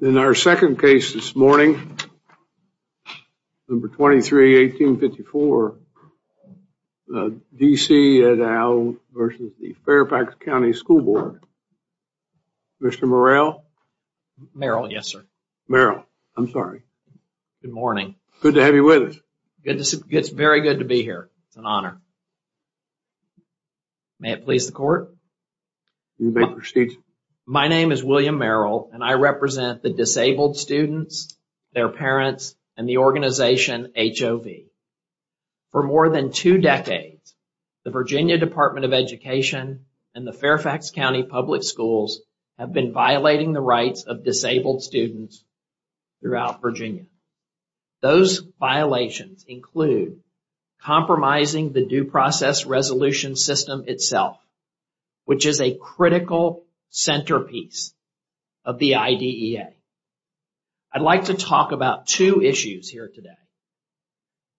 In our second case this morning, number 23-1854, D.C. v. Fairfax County School Board, Mr. Morrell. Mr. Morrell. Mr. Morrell. Yes, sir. Mr. Morrell. I'm sorry. Mr. Morrell. Good morning. Mr. Morrell. Good to have you with us. Mr. Morrell. It's very good to be here. It's an honor. May it please the court. Mr. Morrell. You may proceed. Mr. Morrell. My name is William Morrell, and I represent the disabled students, their parents, and the organization HOV. For more than two decades, the Virginia Department of Education and the Fairfax County Public Schools have been violating the rights of disabled students throughout Virginia. Those violations include compromising the due process resolution system itself, which is a critical centerpiece of the IDEA. I'd like to talk about two issues here today.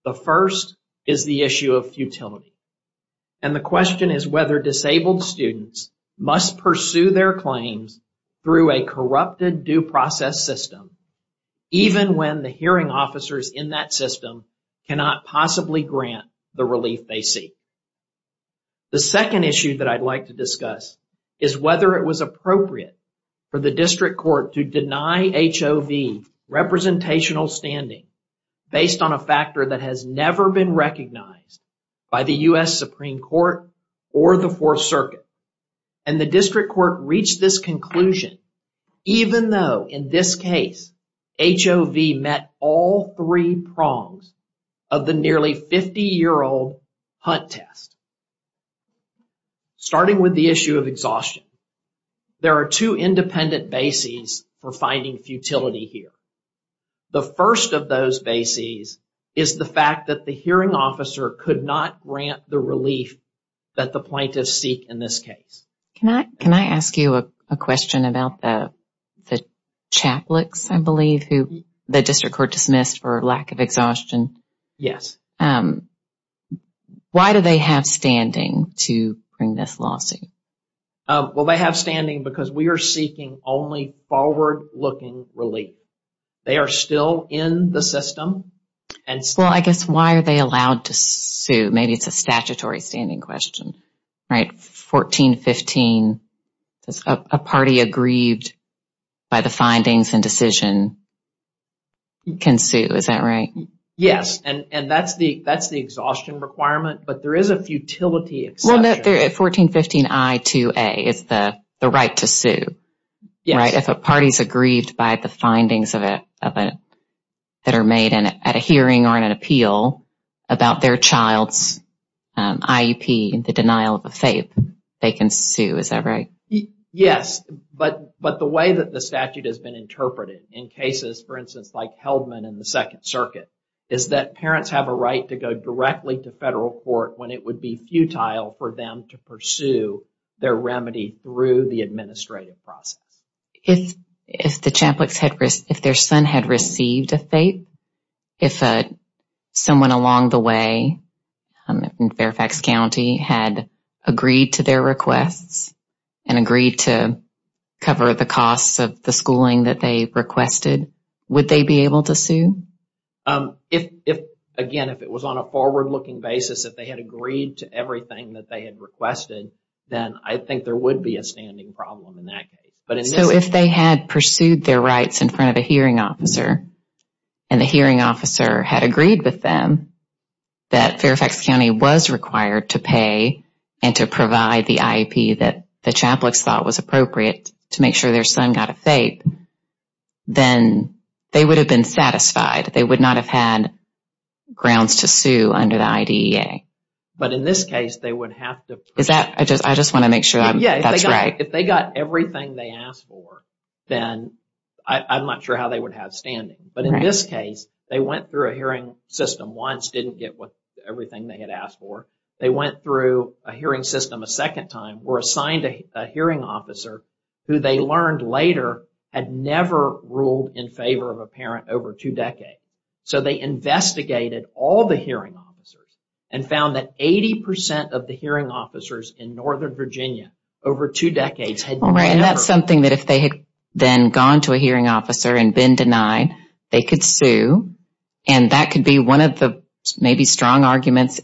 The first is the issue of futility, and the question is whether disabled students must pursue their claims through a corrupted due process system, even when the hearing officers in that system cannot possibly grant the relief they seek. The second issue that I'd like to discuss is whether it was appropriate for the district court to deny HOV representational standing based on a factor that has never been recognized by the U.S. Supreme Court or the Fourth Circuit. And the district court reached this conclusion even though, in this case, HOV met all three prongs of the nearly 50-year-old Hunt test. Starting with the issue of exhaustion, there are two independent bases for finding futility here. The first of those bases is the fact that the hearing officer could not grant the relief that the plaintiffs seek in this case. Can I ask you a question about the Chaplicks, I believe, who the district court dismissed for lack of exhaustion? Yes. Why do they have standing to bring this lawsuit? Well, they have standing because we are seeking only forward-looking relief. They are still in the system. Well, I guess, why are they allowed to sue? Maybe it's a statutory standing question, right? 1415, a party aggrieved by the findings and decision can sue, is that right? Yes. And that's the exhaustion requirement, but there is a futility exception. Well, no. 1415 I-2A is the right to sue, right, if a party is aggrieved by the findings that are made at a hearing or an appeal about their child's IEP, the denial of a FAPE, they can sue. Is that right? Yes, but the way that the statute has been interpreted in cases, for instance, like Heldman in the Second Circuit, is that parents have a right to go directly to federal court when it would be futile for them to pursue their remedy through the administrative process. If the Champlix, if their son had received a FAPE, if someone along the way in Fairfax County had agreed to their requests and agreed to cover the costs of the schooling that they requested, would they be able to sue? If, again, if it was on a forward-looking basis, if they had agreed to everything that they had requested, then I think there would be a standing problem in that case. So if they had pursued their rights in front of a hearing officer, and the hearing officer had agreed with them that Fairfax County was required to pay and to provide the IEP that the Champlix thought was appropriate to make sure their son got a FAPE, then they would have been satisfied. They would not have had grounds to sue under the IDEA. But in this case, they would have to... Is that... I just want to make sure that's right. If they got everything they asked for, then I'm not sure how they would have standing. But in this case, they went through a hearing system once, didn't get everything they had asked for. They went through a hearing system a second time, were assigned a hearing officer who they learned later had never ruled in favor of a parent over two decades. So they investigated all the hearing officers and found that 80% of the hearing officers in Northern Virginia over two decades had never... Right. And that's something that if they had then gone to a hearing officer and been denied, they could sue. And that could be one of the maybe strong arguments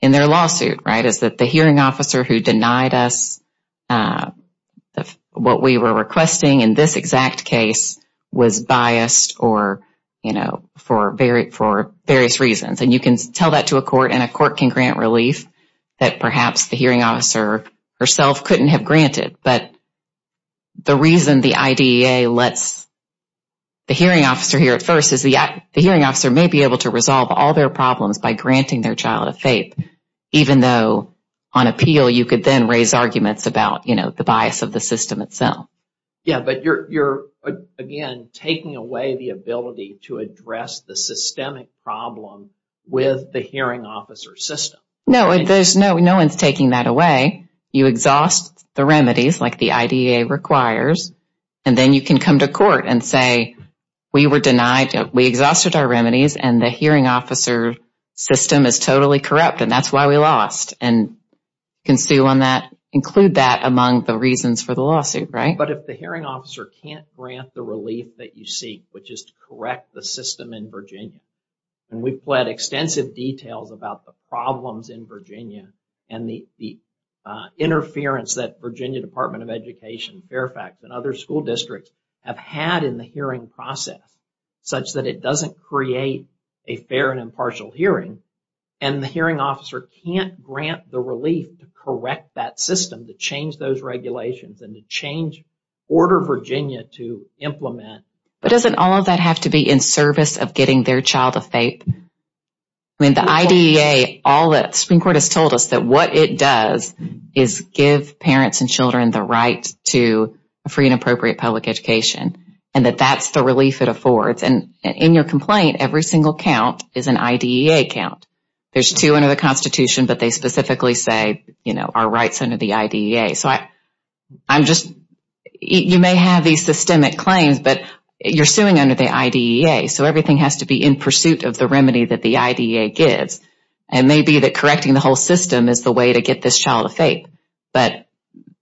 in their lawsuit, right? Is that the hearing officer who denied us what we were requesting in this exact case was biased or, you know, for various reasons. And you can tell that to a court and a court can grant relief that perhaps the hearing officer herself couldn't have granted. But the reason the IDEA lets the hearing officer hear it first is the hearing officer may be able to resolve all their problems by granting their child a FAPE, even though on appeal you could then raise arguments about, you know, the bias of the system itself. Yeah. But you're, again, taking away the ability to address the systemic problem with the hearing officer system. No. There's no, no one's taking that away. You exhaust the remedies like the IDEA requires, and then you can come to court and say, we were denied, we exhausted our remedies and the hearing officer system is totally corrupt and that's why we lost. And can sue on that, include that among the reasons for the lawsuit, right? But if the hearing officer can't grant the relief that you seek, which is to correct the system in Virginia, and we've pled extensive details about the problems in Virginia and the interference that Virginia Department of Education, Fairfax, and other school districts have had in the hearing process, such that it doesn't create a fair and impartial hearing, and the hearing officer can't grant the relief to correct that system, to change those regulations and to change order Virginia to implement. But doesn't all of that have to be in service of getting their child a faith? I mean, the IDEA, all that Supreme Court has told us that what it does is give parents and children the right to a free and appropriate public education, and that that's the relief it affords. And in your complaint, every single count is an IDEA count. There's two under the Constitution, but they specifically say, you know, our rights under the IDEA. So I'm just, you may have these systemic claims, but you're suing under the IDEA, so everything has to be in pursuit of the remedy that the IDEA gives. And maybe that correcting the whole system is the way to get this child a faith, but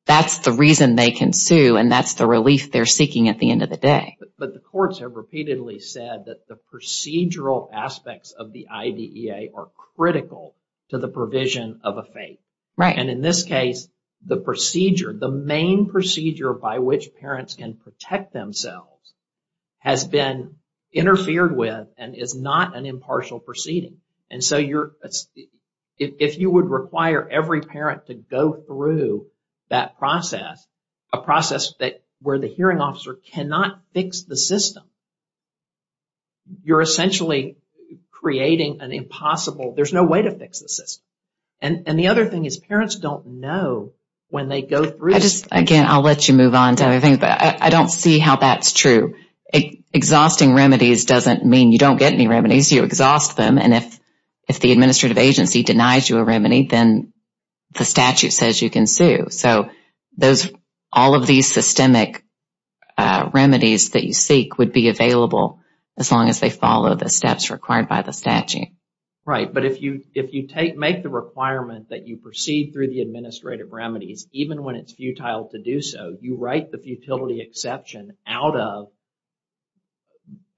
that's the reason they can sue, and that's the relief they're seeking at the end of the day. But the courts have repeatedly said that the procedural aspects of the IDEA are critical to the provision of a faith. And in this case, the procedure, the main procedure by which parents can protect themselves has been interfered with and is not an impartial proceeding. And so if you would require every parent to go through that process, a process where the hearing officer cannot fix the system, you're essentially creating an impossible, there's no way to fix the system. And the other thing is parents don't know when they go through. I just, again, I'll let you move on to everything, but I don't see how that's true. Exhausting remedies doesn't mean you don't get any remedies, you exhaust them. And if if the administrative agency denies you a remedy, then the statute says you can sue. So those all of these systemic remedies that you seek would be available as long as they follow the steps required by the statute. Right. But if you if you take make the requirement that you proceed through the administrative remedies, even when it's futile to do so, you write the futility exception out of.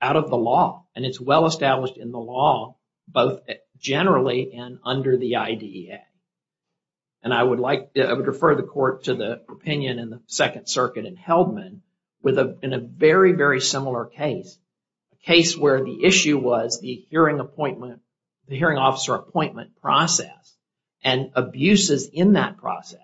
Out of the law, and it's well established in the law, both generally and under the IDEA. And I would like to refer the court to the opinion in the Second Circuit and Heldman with a very, very similar case, a case where the issue was the hearing appointment, the hearing officer appointment process and abuses in that process.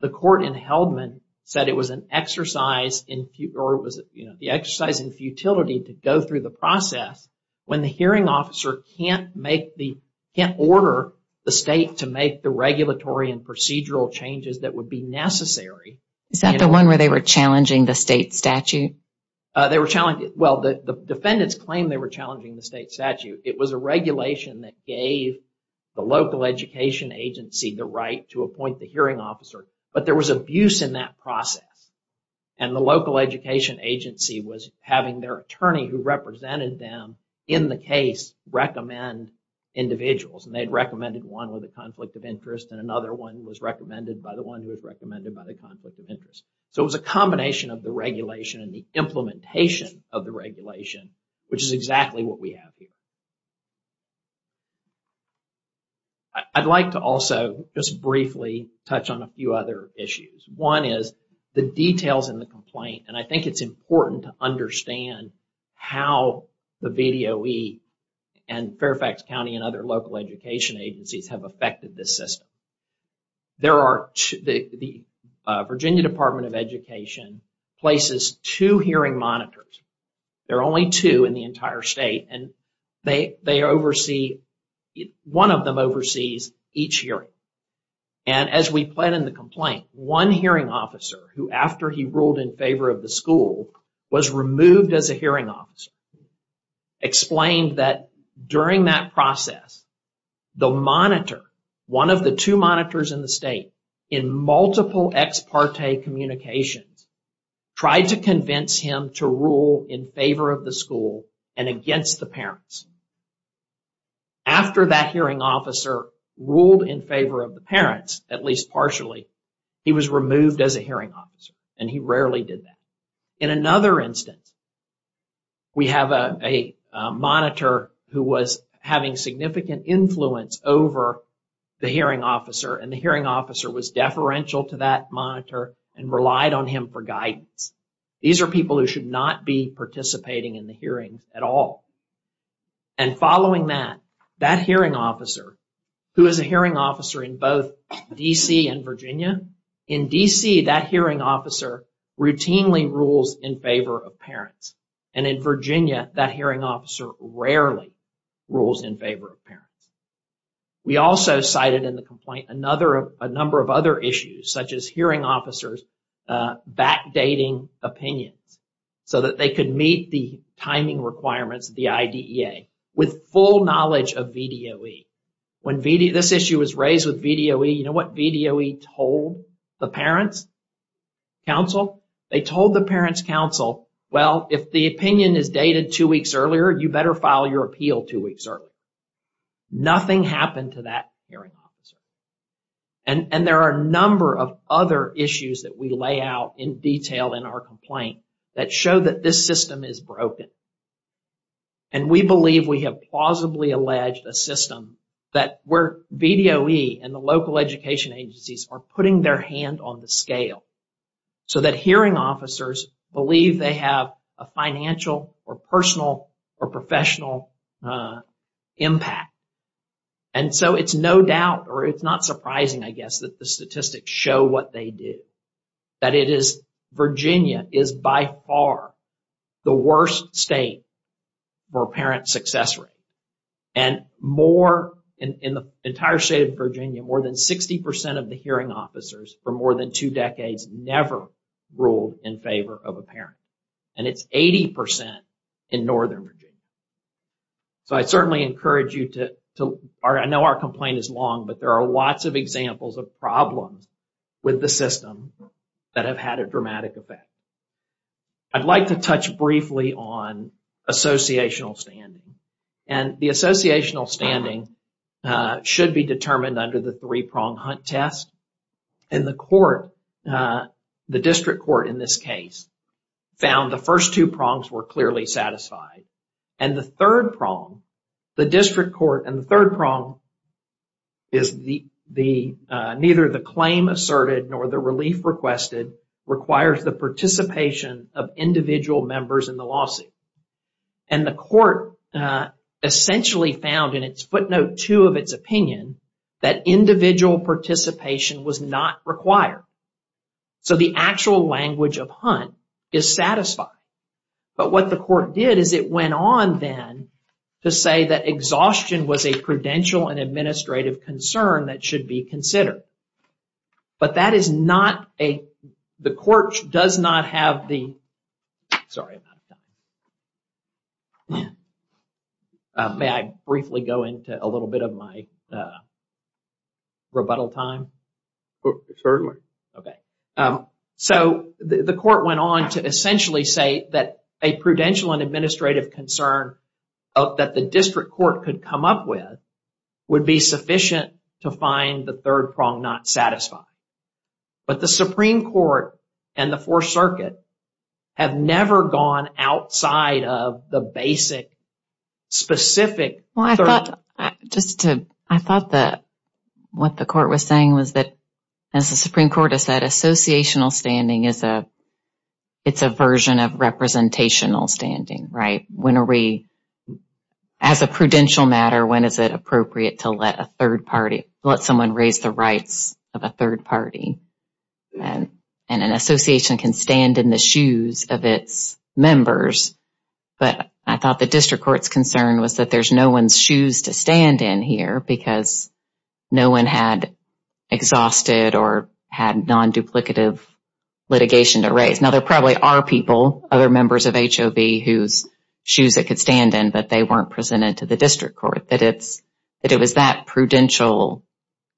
The court in Heldman said it was an exercise in or was the exercise in futility to go through the process when the hearing officer can't make the can't order the state to make the regulatory and procedural changes that would be necessary. Is that the one where they were challenging the state statute? They were challenged. Well, the defendants claim they were challenging the state statute. It was a regulation that gave the local education agency the right to appoint the hearing officer. But there was abuse in that process and the local education agency was having their attorney who represented them in the case recommend individuals. And they'd recommended one with a conflict of interest and another one was recommended by the one who was recommended by the conflict of interest. So it was a combination of the regulation and the implementation of the regulation, which is exactly what we have here. I'd like to also just briefly touch on a few other issues. One is the details in the complaint. And I think it's important to understand how the VDOE and Fairfax County and other local education agencies have affected this system. There are the Virginia Department of Education places two hearing monitors. There are only two in the entire state. And they oversee, one of them oversees each hearing. And as we plan in the complaint, one hearing officer who, after he ruled in favor of the school, was removed as a hearing officer, explained that during that process, the monitor, one of the two monitors in the state, in multiple ex parte communications, tried to convince him to rule in favor of the school and against the parents. After that hearing officer ruled in favor of the parents, at least partially, he was removed as a hearing officer. And he rarely did that. In another instance, we have a monitor who was having significant influence over the hearing officer. And the hearing officer was deferential to that monitor and relied on him for guidance. These are people who should not be participating in the hearings at all. And following that, that hearing officer, who is a hearing officer in both D.C. and Virginia, rarely rules in favor of parents. And in Virginia, that hearing officer rarely rules in favor of parents. We also cited in the complaint a number of other issues, such as hearing officers backdating opinions so that they could meet the timing requirements, the IDEA, with full knowledge of VDOE. When this issue was raised with VDOE, you know what VDOE told the parents, counsel? They told the parents, counsel, well, if the opinion is dated two weeks earlier, you better file your appeal two weeks earlier. Nothing happened to that hearing officer. And there are a number of other issues that we lay out in detail in our complaint that show that this system is broken. And we believe we have plausibly alleged a system that where VDOE and the local education agencies are putting their hand on the scale so that hearing officers believe they have a financial or personal or professional impact. And so it's no doubt or it's not surprising, I guess, that the statistics show what they do. That it is, Virginia is by far the worst state for parent success rate. And more in the entire state of Virginia, more than 60 percent of the hearing officers for more than two decades never ruled in favor of a parent. And it's 80 percent in northern Virginia. So I certainly encourage you to, I know our complaint is long, but there are lots of examples of problems with the system that have had a dramatic effect. I'd like to touch briefly on associational standing. And the associational standing should be determined under the three-prong hunt test. And the court, the district court in this case, found the first two prongs were clearly satisfied. And the third prong, the district court and the third prong is the neither the claim asserted nor the relief requested requires the participation of individual members in the lawsuit. And the court essentially found in its footnote two of its opinion that individual participation was not required. So the actual language of hunt is satisfied. But what the court did is it went on then to say that exhaustion was a credential and administrative concern that should be considered. But that is not a, the court does not have the, sorry. May I briefly go into a little bit of my rebuttal time? Certainly. Okay. So the court went on to essentially say that a prudential and administrative concern that the district court could come up with would be sufficient to find the third prong not satisfied. But the Supreme Court and the Fourth Circuit have never gone outside of the basic specific. Just to, I thought that what the court was saying was that as the Supreme Court has said associational standing is a, it's a version of representational standing, right? When are we, as a prudential matter, when is it appropriate to let a third party, let someone raise the rights of a third party? And an association can stand in the shoes of its members. But I thought the district court's concern was that there's no one's shoes to stand in here because no one had exhausted or had non-duplicative litigation to raise. Now, there probably are people, other members of HOB whose shoes it could stand in, but they weren't presented to the district court. That it's, that it was that prudential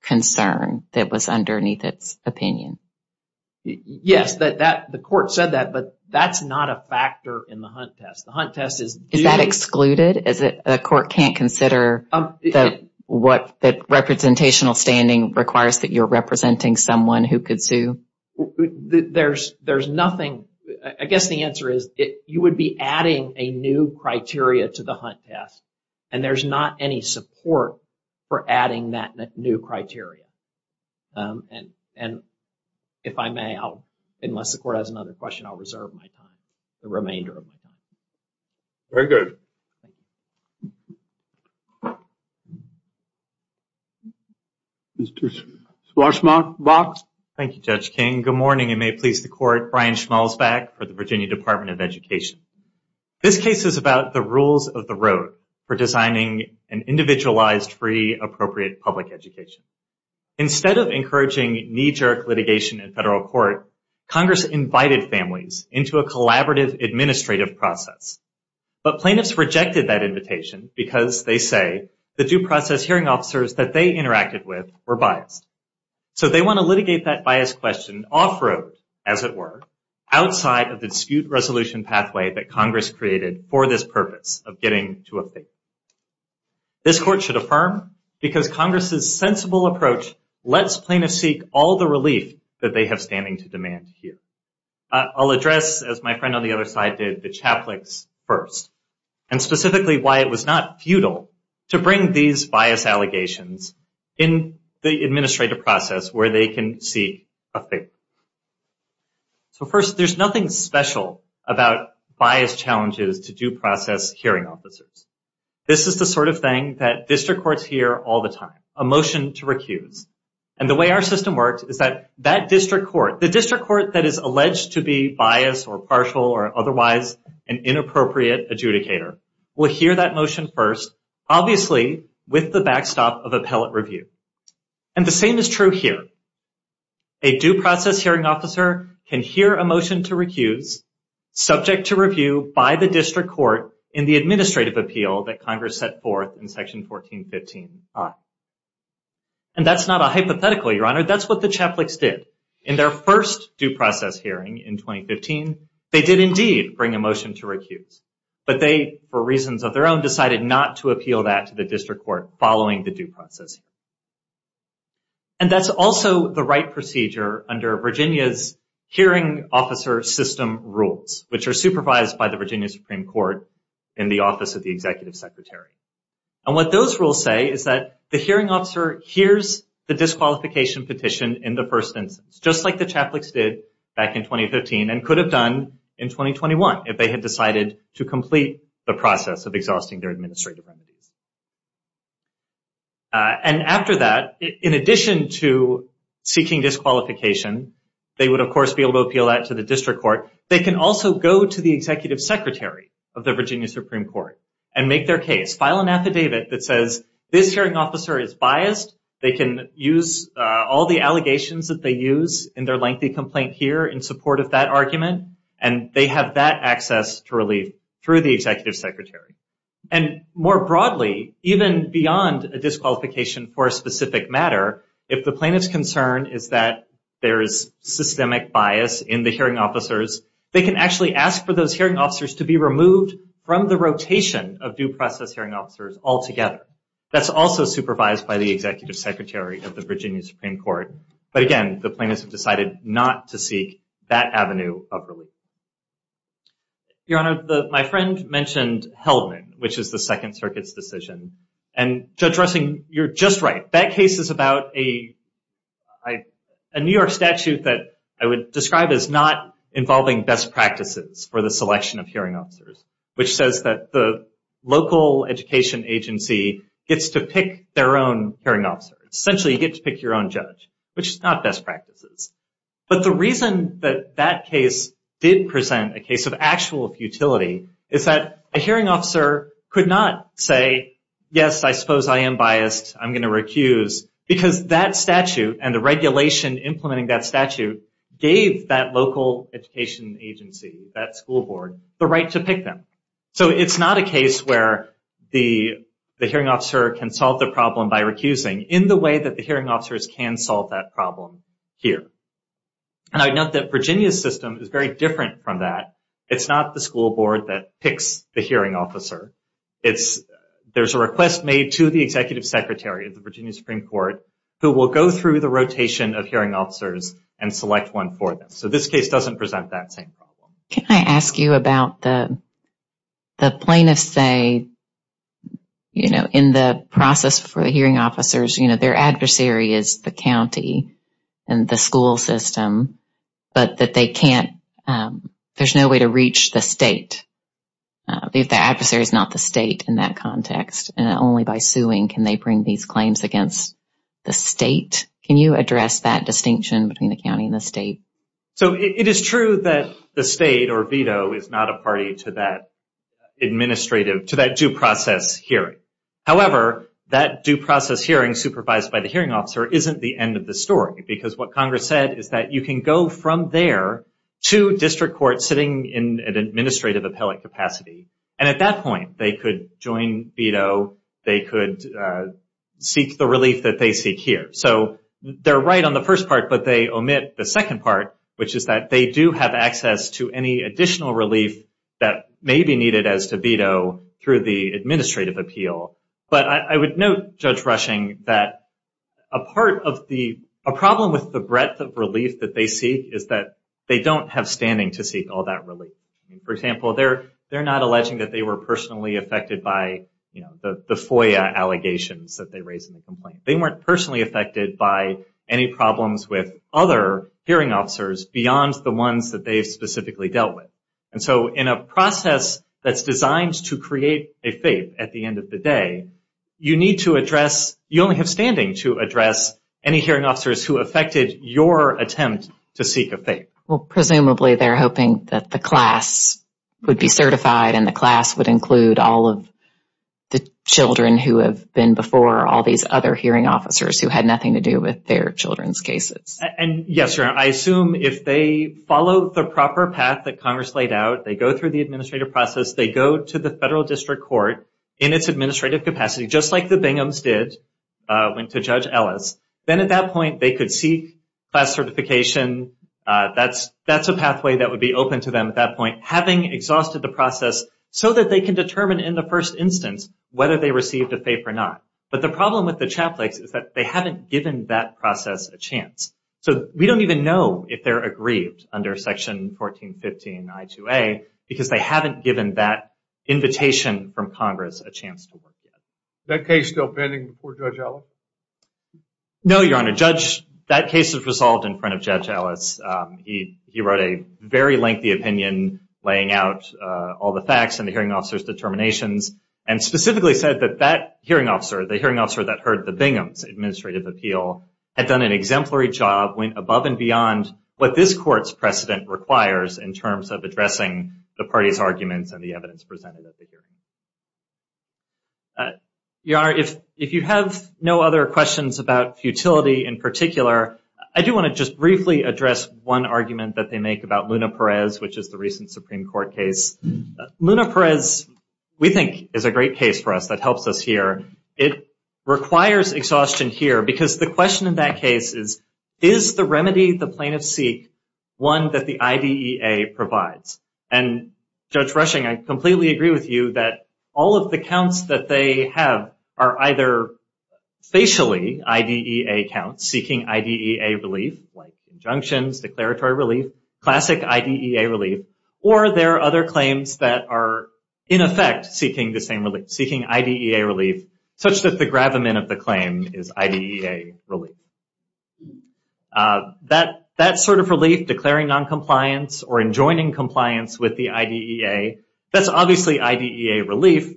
concern that was underneath its opinion. Yes, the court said that, but that's not a factor in the Hunt test. The Hunt test is... Is that excluded? Is it, a court can't consider that what, that representational standing requires that you're representing someone who could sue? There's, there's nothing. I guess the answer is it, you would be adding a new criteria to the Hunt test and there's not any support for adding that new criteria. And, and if I may, I'll, unless the court has another question, I'll reserve my time, the remainder of my time. Very good. Mr. Schwarzmark, Box. Thank you, Judge King. Good morning, and may it please the court. Brian Schmalzback for the Virginia Department of Education. This case is about the rules of the road for designing an individualized, free, appropriate public education. Instead of encouraging knee-jerk litigation in federal court, Congress invited families into a collaborative administrative process. But plaintiffs rejected that invitation because they say the due process hearing officers that they interacted with were biased. So they want to litigate that bias question off-road, as it were, outside of the dispute resolution pathway that Congress created for this purpose of getting to a fate. This court should affirm because Congress's sensible approach lets plaintiffs seek all the relief that they have standing to demand here. I'll address, as my friend on the other side did, the chaplix first, and specifically why it was not futile to bring these bias allegations in the administrative process where they can seek a favor. So first, there's nothing special about bias challenges to due process hearing officers. This is the sort of thing that district courts hear all the time, a motion to recuse. And the way our system works is that that district court, the district court that is alleged to be biased or partial or otherwise an inappropriate adjudicator, will hear that motion first, obviously with the backstop of appellate review. And the same is true here. A due process hearing officer can hear a motion to recuse, subject to review by the district court in the administrative appeal that Congress set forth in Section 1415I. And that's not a hypothetical, Your Honor. That's what the chaplix did. In their first due process hearing in 2015, they did indeed bring a motion to recuse. But they, for reasons of their own, decided not to appeal that to the district court following the due process. And that's also the right procedure under Virginia's hearing officer system rules, which are supervised by the Virginia Supreme Court in the Office of the Executive Secretary. And what those rules say is that the hearing officer hears the disqualification petition in the first instance, just like the chaplix did back in 2015 and could have done in 2021 if they had decided to complete the process of exhausting their administrative remedies. And after that, in addition to seeking disqualification, they would, of course, be able to appeal that to the district court. They can also go to the Executive Secretary of the Virginia Supreme Court and make their case, file an affidavit that says, this hearing officer is biased. They can use all the allegations that they use in their lengthy complaint here in support of that argument. And they have that access to relief through the Executive Secretary. And more broadly, even beyond a disqualification for a specific matter, if the plaintiff's concern is that there is systemic bias in the hearing officers, they can actually ask for those hearing officers to be removed from the rotation of due process hearing officers altogether. That's also supervised by the Executive Secretary of the Virginia Supreme Court. But again, the plaintiffs have decided not to seek that avenue of relief. Your Honor, my friend mentioned Heldman, which is the Second Circuit's decision. And Judge Russing, you're just right. That case is about a New York statute that I would describe as not involving best practices for the selection of hearing officers, which says that the local education agency gets to pick their own hearing officer. Essentially, you get to pick your own judge, which is not best practices. But the reason that that case did present a case of actual futility is that a hearing officer could not say, yes, I suppose I am biased. I'm going to recuse. Because that statute and the regulation implementing that statute gave that local education agency, that school board, the right to pick them. So it's not a case where the hearing officer can solve the problem by recusing. In the way that the hearing officers can solve that problem here. And I note that Virginia's system is very different from that. It's not the school board that picks the hearing officer. There's a request made to the Executive Secretary of the Virginia Supreme Court who will go through the rotation of hearing officers and select one for them. So this case doesn't present that same problem. Can I ask you about the plaintiffs say, you know, in the process for the hearing officers, you know, their adversary is the county and the school system, but that they can't, there's no way to reach the state. If the adversary is not the state in that context, and only by suing can they bring these claims against the state. Can you address that distinction between the county and the state? So it is true that the state or veto is not a party to that administrative, to that due process hearing. However, that due process hearing supervised by the hearing officer isn't the end of the story. Because what Congress said is that you can go from there to district court sitting in an administrative appellate capacity. And at that point, they could join veto, they could seek the relief that they seek here. So they're right on the first part, but they omit the second part, which is that they do have access to any additional relief that may be needed as to veto through the administrative appeal. But I would note, Judge Rushing, that a part of the, a problem with the breadth of relief that they seek is that they don't have standing to seek all that relief. For example, they're not alleging that they were personally affected by, you know, the FOIA allegations that they raised in the complaint. They weren't personally affected by any problems with other hearing officers beyond the ones that they specifically dealt with. And so in a process that's designed to create a faith at the end of the day, you need to address, you only have standing to address any hearing officers who affected your attempt to seek a faith. Well, presumably they're hoping that the class would be certified and the class would include all of the children who have been before all these other hearing officers who had nothing to do with their children's cases. And yes, Your Honor, I assume if they follow the proper path that Congress laid out, they go through the administrative process, they go to the federal district court in its administrative capacity, just like the Binghams did, went to Judge Ellis, then at that point they could seek class certification. That's a pathway that would be open to them at that point, having exhausted the process so that they can determine in the first instance whether they received a faith or not. But the problem with the Chaplakes is that they haven't given that process a chance. So we don't even know if they're aggrieved under Section 1415 I-2A because they haven't given that invitation from Congress a chance to work yet. Is that case still pending before Judge Ellis? No, Your Honor. That case is resolved in front of Judge Ellis. He wrote a very lengthy opinion laying out all the facts and the hearing officer's determinations and specifically said that that hearing officer, the hearing officer that heard the Binghams' administrative appeal, had done an exemplary job, went above and beyond what this Court's precedent requires in terms of addressing the party's arguments and the evidence presented at the hearing. Your Honor, if you have no other questions about futility in particular, I do want to just briefly address one argument that they make about Luna Perez, which is the recent Supreme Court case. Luna Perez, we think, is a great case for us that helps us here. It requires exhaustion here because the question in that case is, is the remedy the plaintiff seek one that the IDEA provides? And Judge Rushing, I completely agree with you that all of the counts that they have are either facially IDEA counts seeking IDEA relief, like injunctions, declaratory relief, classic IDEA relief, or there are other claims that are, in effect, seeking the same relief, seeking IDEA relief, such that the gravamen of the claim is IDEA relief. That sort of relief, declaring noncompliance or enjoining compliance with the IDEA, that's obviously IDEA relief.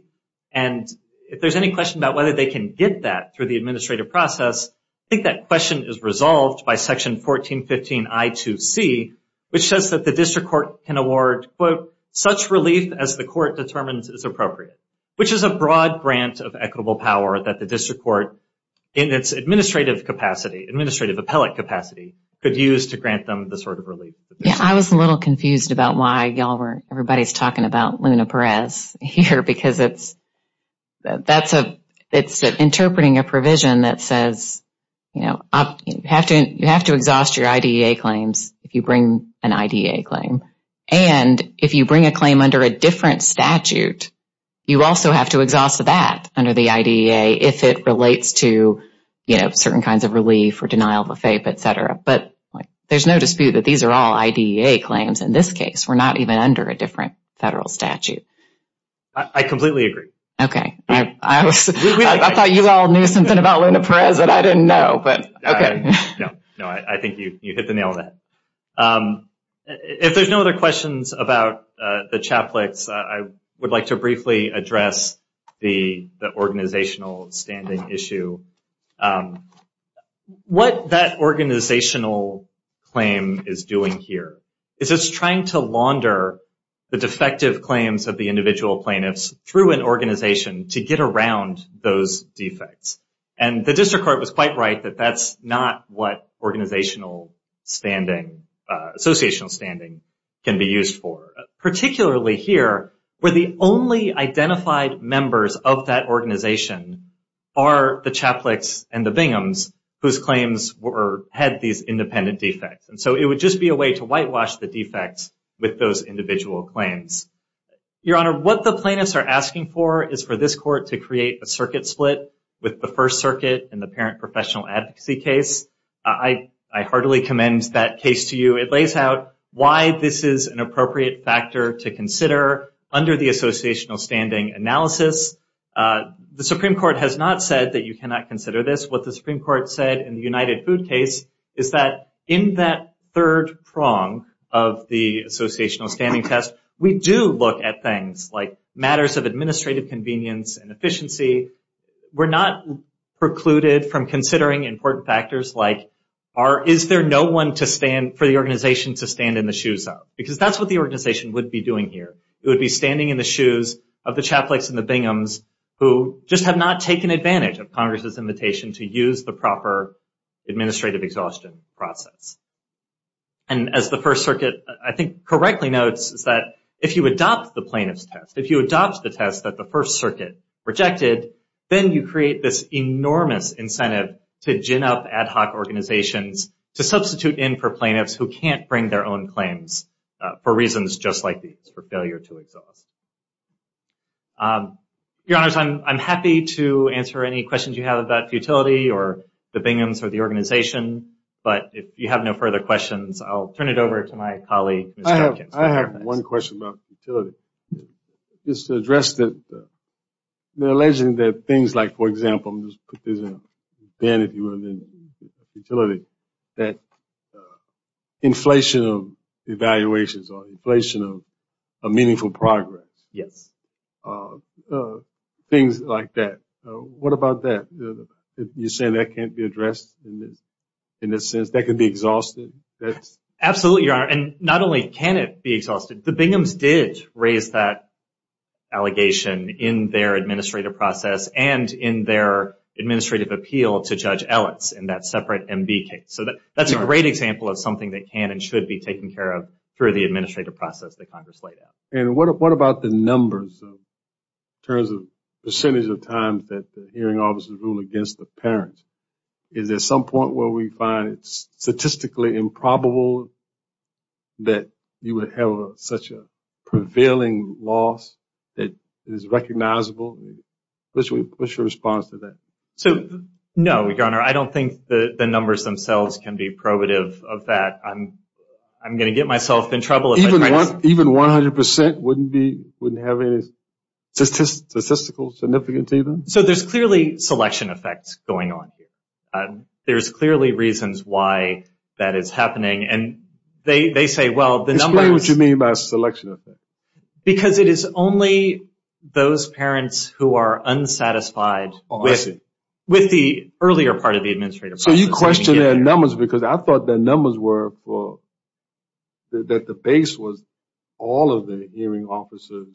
And if there's any question about whether they can get that through the administrative process, I think that question is resolved by Section 1415 I2C, which says that the district court can award, quote, such relief as the court determines is appropriate, which is a broad grant of equitable power that the district court, in its administrative capacity, administrative appellate capacity, could use to grant them this sort of relief. Yeah, I was a little confused about why y'all were, everybody's talking about Luna Perez here because it's, that's a, it's interpreting a provision that says, you know, you have to exhaust your IDEA claims if you bring an IDEA claim. And if you bring a claim under a different statute, you also have to exhaust that under the IDEA if it relates to, you know, certain kinds of relief or denial of a fape, etc. But there's no dispute that these are all IDEA claims in this case. We're not even under a different federal statute. I completely agree. Okay, I thought you all knew something about Luna Perez that I didn't know, but okay. No, I think you hit the nail on the head. Um, if there's no other questions about the Chaplix, I would like to briefly address the organizational standing issue. What that organizational claim is doing here is it's trying to launder the defective claims of the individual plaintiffs through an organization to get around those defects. And the district court was quite right that that's not what organizational standing associational standing can be used for. Particularly here, where the only identified members of that organization are the Chaplix and the Binghams, whose claims were had these independent defects. And so it would just be a way to whitewash the defects with those individual claims. Your Honor, what the plaintiffs are asking for is for this court to create a circuit split with the First Circuit and the Parent Professional Advocacy case. I heartily commend that case to you. It lays out why this is an appropriate factor to consider under the associational standing analysis. The Supreme Court has not said that you cannot consider this. What the Supreme Court said in the United Food case is that in that third prong of the associational standing test, we do look at things like matters of administrative convenience and efficiency. We're not precluded from considering important factors like, is there no one for the organization to stand in the shoes of? Because that's what the organization would be doing here. It would be standing in the shoes of the Chaplix and the Binghams who just have not taken advantage of Congress's invitation to use the proper administrative exhaustion process. And as the First Circuit, I think, correctly notes is that if you adopt the plaintiff's test, if you adopt the test that the First Circuit rejected, then you create this enormous incentive to gin up ad hoc organizations to substitute in for plaintiffs who can't bring their own claims for reasons just like these, for failure to exhaust. Your Honors, I'm happy to answer any questions you have about futility or the Binghams or the organization. But if you have no further questions, I'll turn it over to my colleague. I have one question about futility. It's addressed that they're alleging that things like, for example, I'll just put this in Ben, if you will, in futility, that inflation of evaluations or inflation of meaningful progress. Yes. Things like that. What about that? You're saying that can't be addressed in this sense? That could be exhausted? That's... Absolutely, Your Honor. Not only can it be exhausted. The Binghams did raise that allegation in their administrative process and in their administrative appeal to Judge Ellis in that separate MB case. So that's a great example of something that can and should be taken care of through the administrative process that Congress laid out. What about the numbers in terms of percentage of times that the hearing officers rule against the parents? Is there some point where we find it statistically improbable that you would have such a prevailing loss that is recognizable? What's your response to that? So, no, Your Honor. I don't think the numbers themselves can be probative of that. I'm going to get myself in trouble if I try to... Even 100% wouldn't have any statistical significance either? So there's clearly selection effects going on. There's clearly reasons why that is happening. And they say, well, the numbers... Explain what you mean by selection effect. Because it is only those parents who are unsatisfied with the earlier part of the administrative process. So you question their numbers because I thought their numbers were for... That the base was all of the hearing officers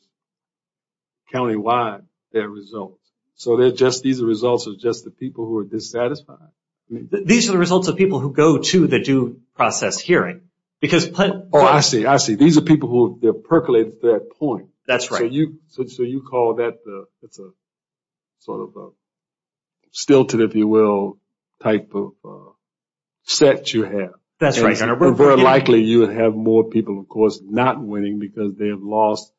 countywide, their results. So these are results of just the people who are dissatisfied. These are the results of people who go to the due process hearing. Because... Oh, I see. I see. These are people who have percolated to that point. That's right. So you call that the... It's a sort of stilted, if you will, type of set you have. That's right, Your Honor. Very likely you would have more people, of course, not winning because they have lost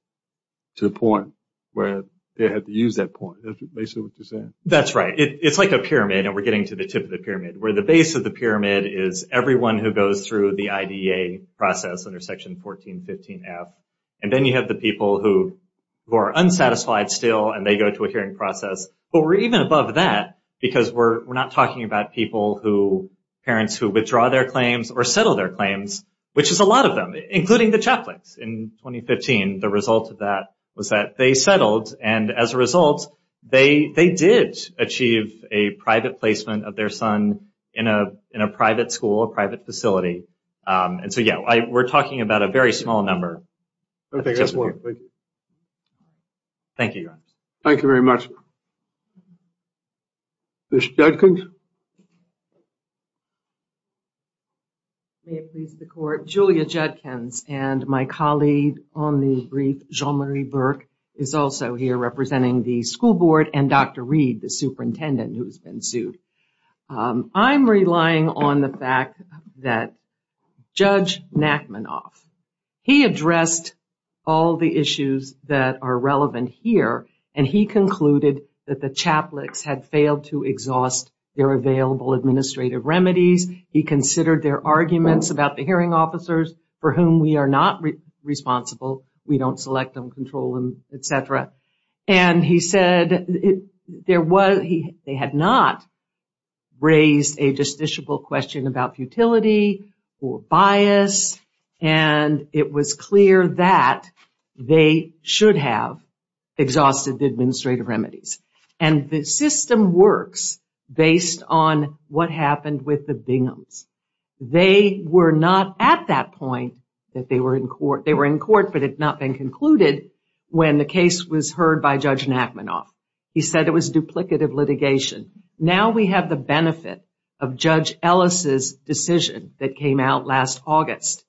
to the point where they had to use that point. Basically what you're saying. That's right. It's like a pyramid and we're getting to the tip of the pyramid where the base of the pyramid is everyone who goes through the IDA process under Section 1415F. And then you have the people who are unsatisfied still and they go to a hearing process. But we're even above that because we're not talking about people who... Parents who withdraw their claims or settle their claims, which is a lot of them, including the Chaplains in 2015. The result of that was that they settled. And as a result, they did achieve a private placement of their son in a private school, a private facility. And so, yeah, we're talking about a very small number. Okay, that's one. Thank you, Your Honor. Thank you very much. Ms. Judkins. May it please the Court. Julia Judkins and my colleague on the brief, Jean-Marie Burke, is also here representing the school board and Dr. Reed, the superintendent who's been sued. I'm relying on the fact that Judge Nachmanoff, he addressed all the issues that are relevant here. And he concluded that the Chaplains had failed to exhaust their available administrative remedies. He considered their arguments about the hearing officers for whom we are not responsible. We don't select them, control them, et cetera. And he said they had not raised a justiciable question about futility or bias. And it was clear that they should have exhausted the administrative remedies. And the system works based on what happened with the Binghams. They were not at that point that they were in court. They were in court, but it had not been concluded when the case was heard by Judge Nachmanoff. He said it was duplicative litigation. Now we have the benefit of Judge Ellis' decision that came out last August.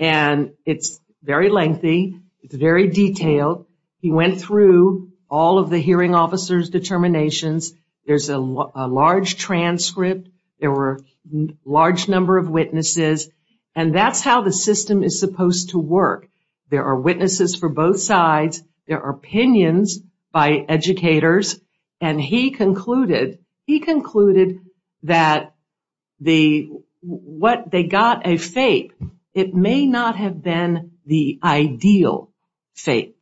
And it's very lengthy. It's very detailed. He went through all of the hearing officers' determinations. There's a large transcript. There were a large number of witnesses. And that's how the system is supposed to work. There are witnesses for both sides. There are opinions by educators. And he concluded that what they got a fate. It may not have been the ideal fate.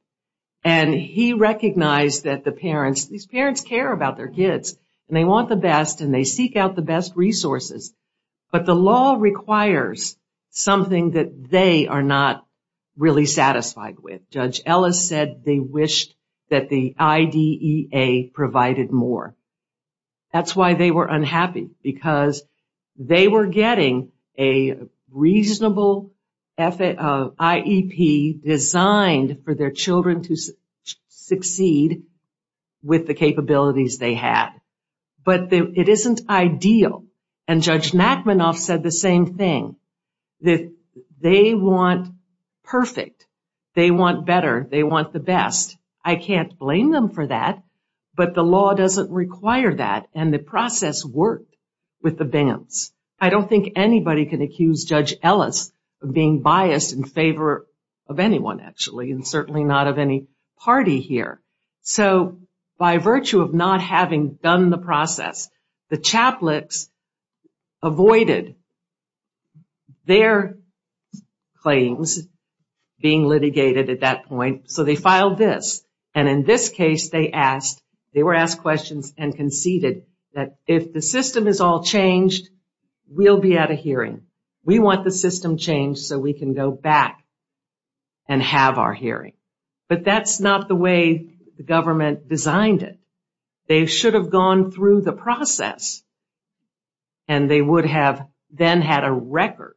And he recognized that the parents, these parents care about their kids. And they want the best. And they seek out the best resources. But the law requires something that they are not really satisfied with. Judge Ellis said they wished that the IDEA provided more. That's why they were unhappy. Because they were getting a reasonable IEP designed for their children to succeed with the capabilities they had. But it isn't ideal. And Judge Nachmanoff said the same thing. They want perfect. They want better. They want the best. I can't blame them for that. But the law doesn't require that. And the process worked. With the bands. I don't think anybody can accuse Judge Ellis of being biased in favor of anyone, actually. And certainly not of any party here. So by virtue of not having done the process, the Chaplicks avoided their claims being litigated at that point. So they filed this. And in this case, they asked, they were asked questions and conceded that if the system is all changed, we'll be at a hearing. We want the system changed so we can go back and have our hearing. But that's not the way the government designed it. They should have gone through the process. And they would have then had a record.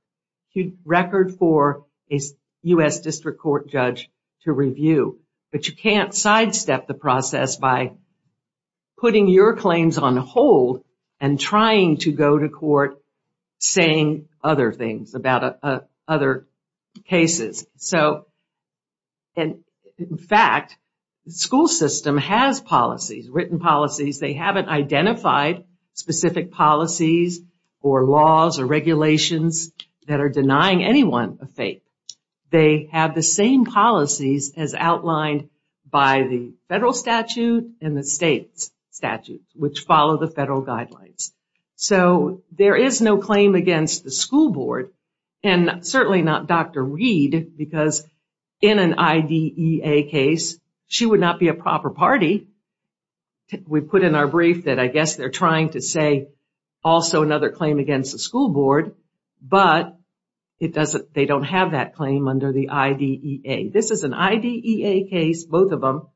Record for a U.S. District Court judge to review. But you can't sidestep the process by putting your claims on hold and trying to go to court saying other things about other cases. So, in fact, the school system has policies, written policies. They haven't identified specific policies or laws or regulations that are denying anyone a fate. They have the same policies as outlined by the federal statute and the state's statutes, which follow the federal guidelines. So there is no claim against the school board. And certainly not Dr. Reed, because in an IDEA case, she would not be a proper party. We put in our brief that I guess they're trying to say also another claim against the school board. But they don't have that claim under the IDEA. This is an IDEA case, both of them,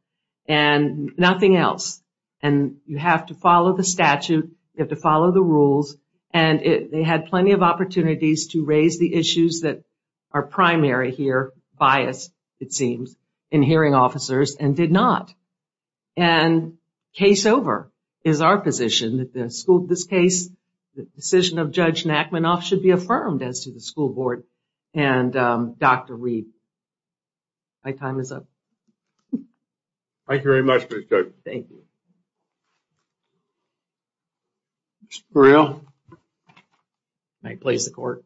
and nothing else. And you have to follow the statute. You have to follow the rules. And they had plenty of opportunities to raise the issues that are primary here, bias, it seems, in hearing officers and did not. And case over is our position. This case, the decision of Judge Nachmanoff should be affirmed as to the school board and Dr. Reed. My time is up. Thank you very much. Thank you. May I please the court?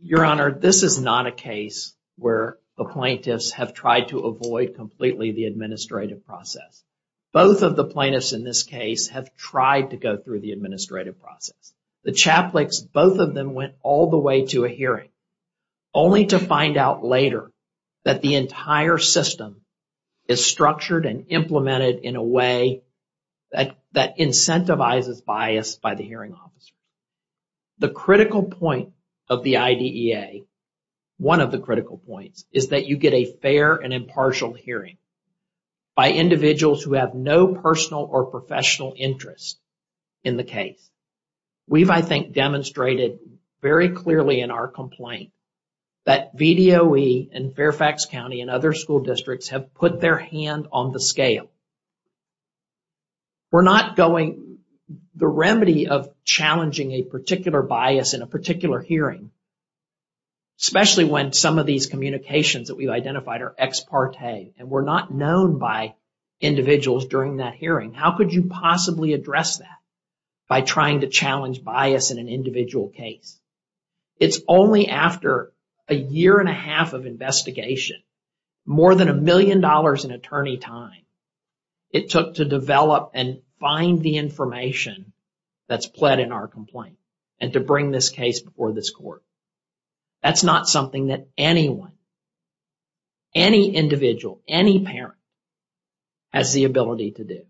Your Honor, this is not a case where the plaintiffs have tried to avoid completely the administrative process. Both of the plaintiffs in this case have tried to go through the administrative process. The Chaplicks, both of them went all the way to a hearing, only to find out later that the entire system is structured and implemented in a way that incentivizes bias by the hearing officer. The critical point of the IDEA, one of the critical points, is that you get a fair and have no personal or professional interest in the case. We've, I think, demonstrated very clearly in our complaint that VDOE and Fairfax County and other school districts have put their hand on the scale. We're not going, the remedy of challenging a particular bias in a particular hearing, especially when some of these communications that we've identified are ex parte and we're not known by individuals during that hearing. How could you possibly address that by trying to challenge bias in an individual case? It's only after a year and a half of investigation, more than a million dollars in attorney time, it took to develop and find the information that's pled in our complaint and to bring this case before this court. That's not something that anyone, any individual, any parent has the ability to do.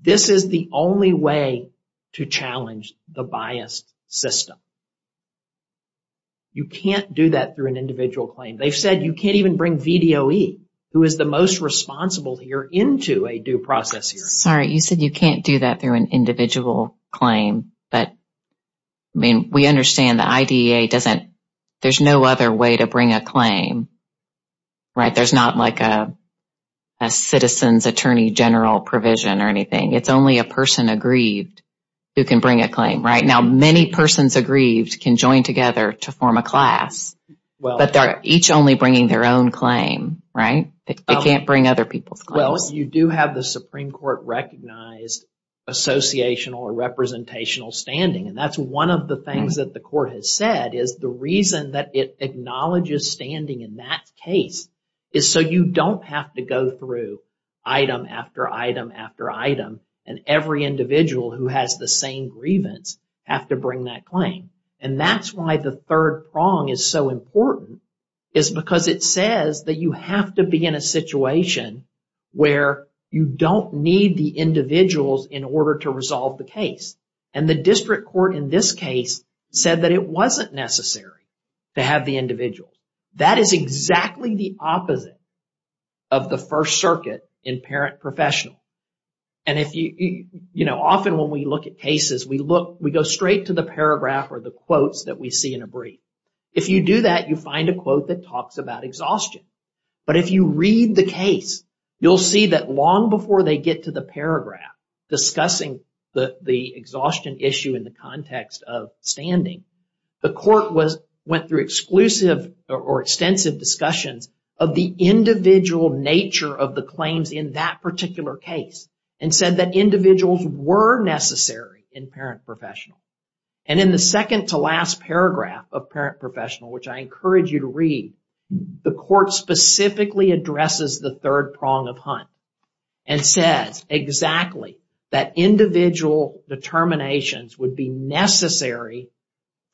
This is the only way to challenge the biased system. You can't do that through an individual claim. They've said you can't even bring VDOE, who is the most responsible here, into a due process. Sorry, you said you can't do that through an individual claim. But, I mean, we understand the IDEA doesn't, there's no other way to bring a claim, right? There's not like a citizen's attorney general provision or anything. It's only a person aggrieved who can bring a claim, right? Now, many persons aggrieved can join together to form a class, but they're each only bringing their own claim, right? They can't bring other people's claims. You do have the Supreme Court recognized associational or representational standing, and that's one of the things that the court has said is the reason that it acknowledges standing in that case is so you don't have to go through item after item after item, and every individual who has the same grievance have to bring that claim. And that's why the third prong is so important, is because it says that you have to be in a situation where you don't need the individuals in order to resolve the case. And the district court in this case said that it wasn't necessary to have the individuals. That is exactly the opposite of the First Circuit in parent professional. And if you, you know, often when we look at cases, we look, we go straight to the paragraph or the quotes that we see in a brief. If you do that, you find a quote that talks about exhaustion. But if you read the case, you'll see that long before they get to the paragraph discussing the exhaustion issue in the context of standing, the court was went through exclusive or extensive discussions of the individual nature of the claims in that particular case and said that individuals were necessary in parent professional. And in the second to last paragraph of parent professional, which I encourage you to read, the court specifically addresses the third prong of Hunt and says exactly that individual determinations would be necessary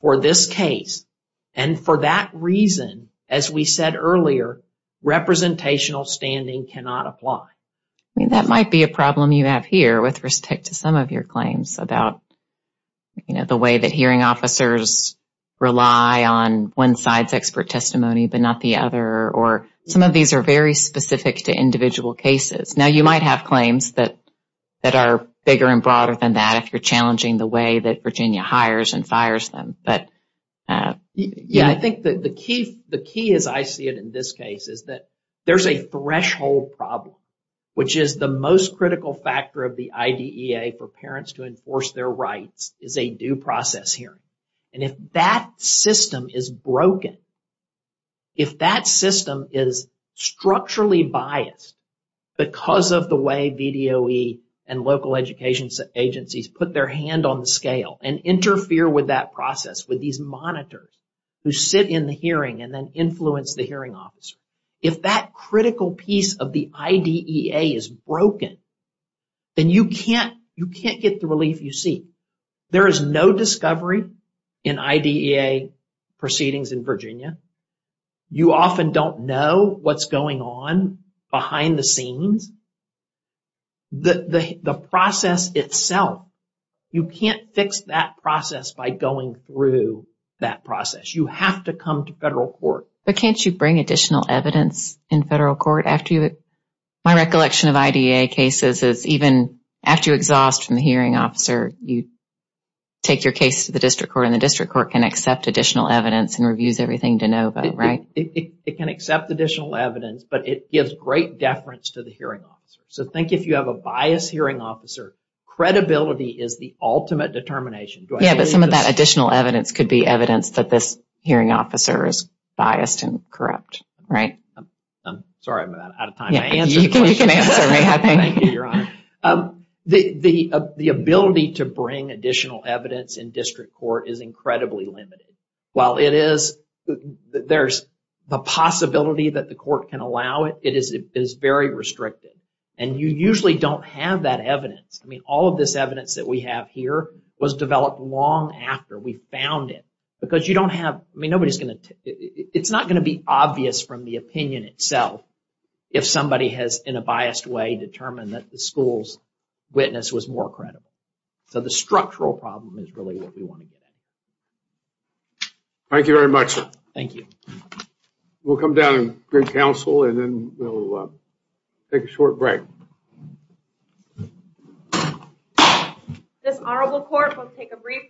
for this case. And for that reason, as we said earlier, representational standing cannot apply. I mean, that might be a problem you have here with respect to some of your claims about, you know, the way that hearing officers rely on one side's expert testimony, but not the other. Or some of these are very specific to individual cases. Now, you might have claims that that are bigger and broader than that if you're challenging the way that Virginia hires and fires them. But yeah, I think that the key, the key is I see it in this case is that there's a threshold problem, which is the most critical factor of the IDEA for parents to enforce their rights is a due process hearing. And if that system is broken, if that system is structurally biased because of the way VDOE and local education agencies put their hand on the scale and interfere with that process with these monitors who sit in the hearing and then influence the hearing officer. If that critical piece of the IDEA is broken, then you can't get the relief you seek. There is no discovery in IDEA proceedings in Virginia. You often don't know what's going on behind the scenes. The process itself, you can't fix that process by going through that process. You have to come to federal court. But can't you bring additional evidence in federal court after you? My recollection of IDEA cases is even after you exhaust from the hearing officer, you take your case to the district court and the district court can accept additional evidence and reviews everything to know about, right? It can accept additional evidence, but it gives great deference to the hearing officer. So think if you have a biased hearing officer, credibility is the ultimate determination. Yeah, but some of that additional evidence could be evidence that this corrupt, right? I'm sorry, I'm out of time. Yeah, you can answer me, I think. Thank you, Your Honor. The ability to bring additional evidence in district court is incredibly limited. While it is, there's the possibility that the court can allow it, it is very restricted. And you usually don't have that evidence. I mean, all of this evidence that we have here was developed long after we found it. Because you don't have, I mean, nobody's going to, it's not going to be obvious from the opinion itself, if somebody has, in a biased way, determined that the school's witness was more credible. So the structural problem is really what we want to get at. Thank you very much, sir. Thank you. We'll come down and bring counsel and then we'll take a short break. This honorable court will take a brief recess.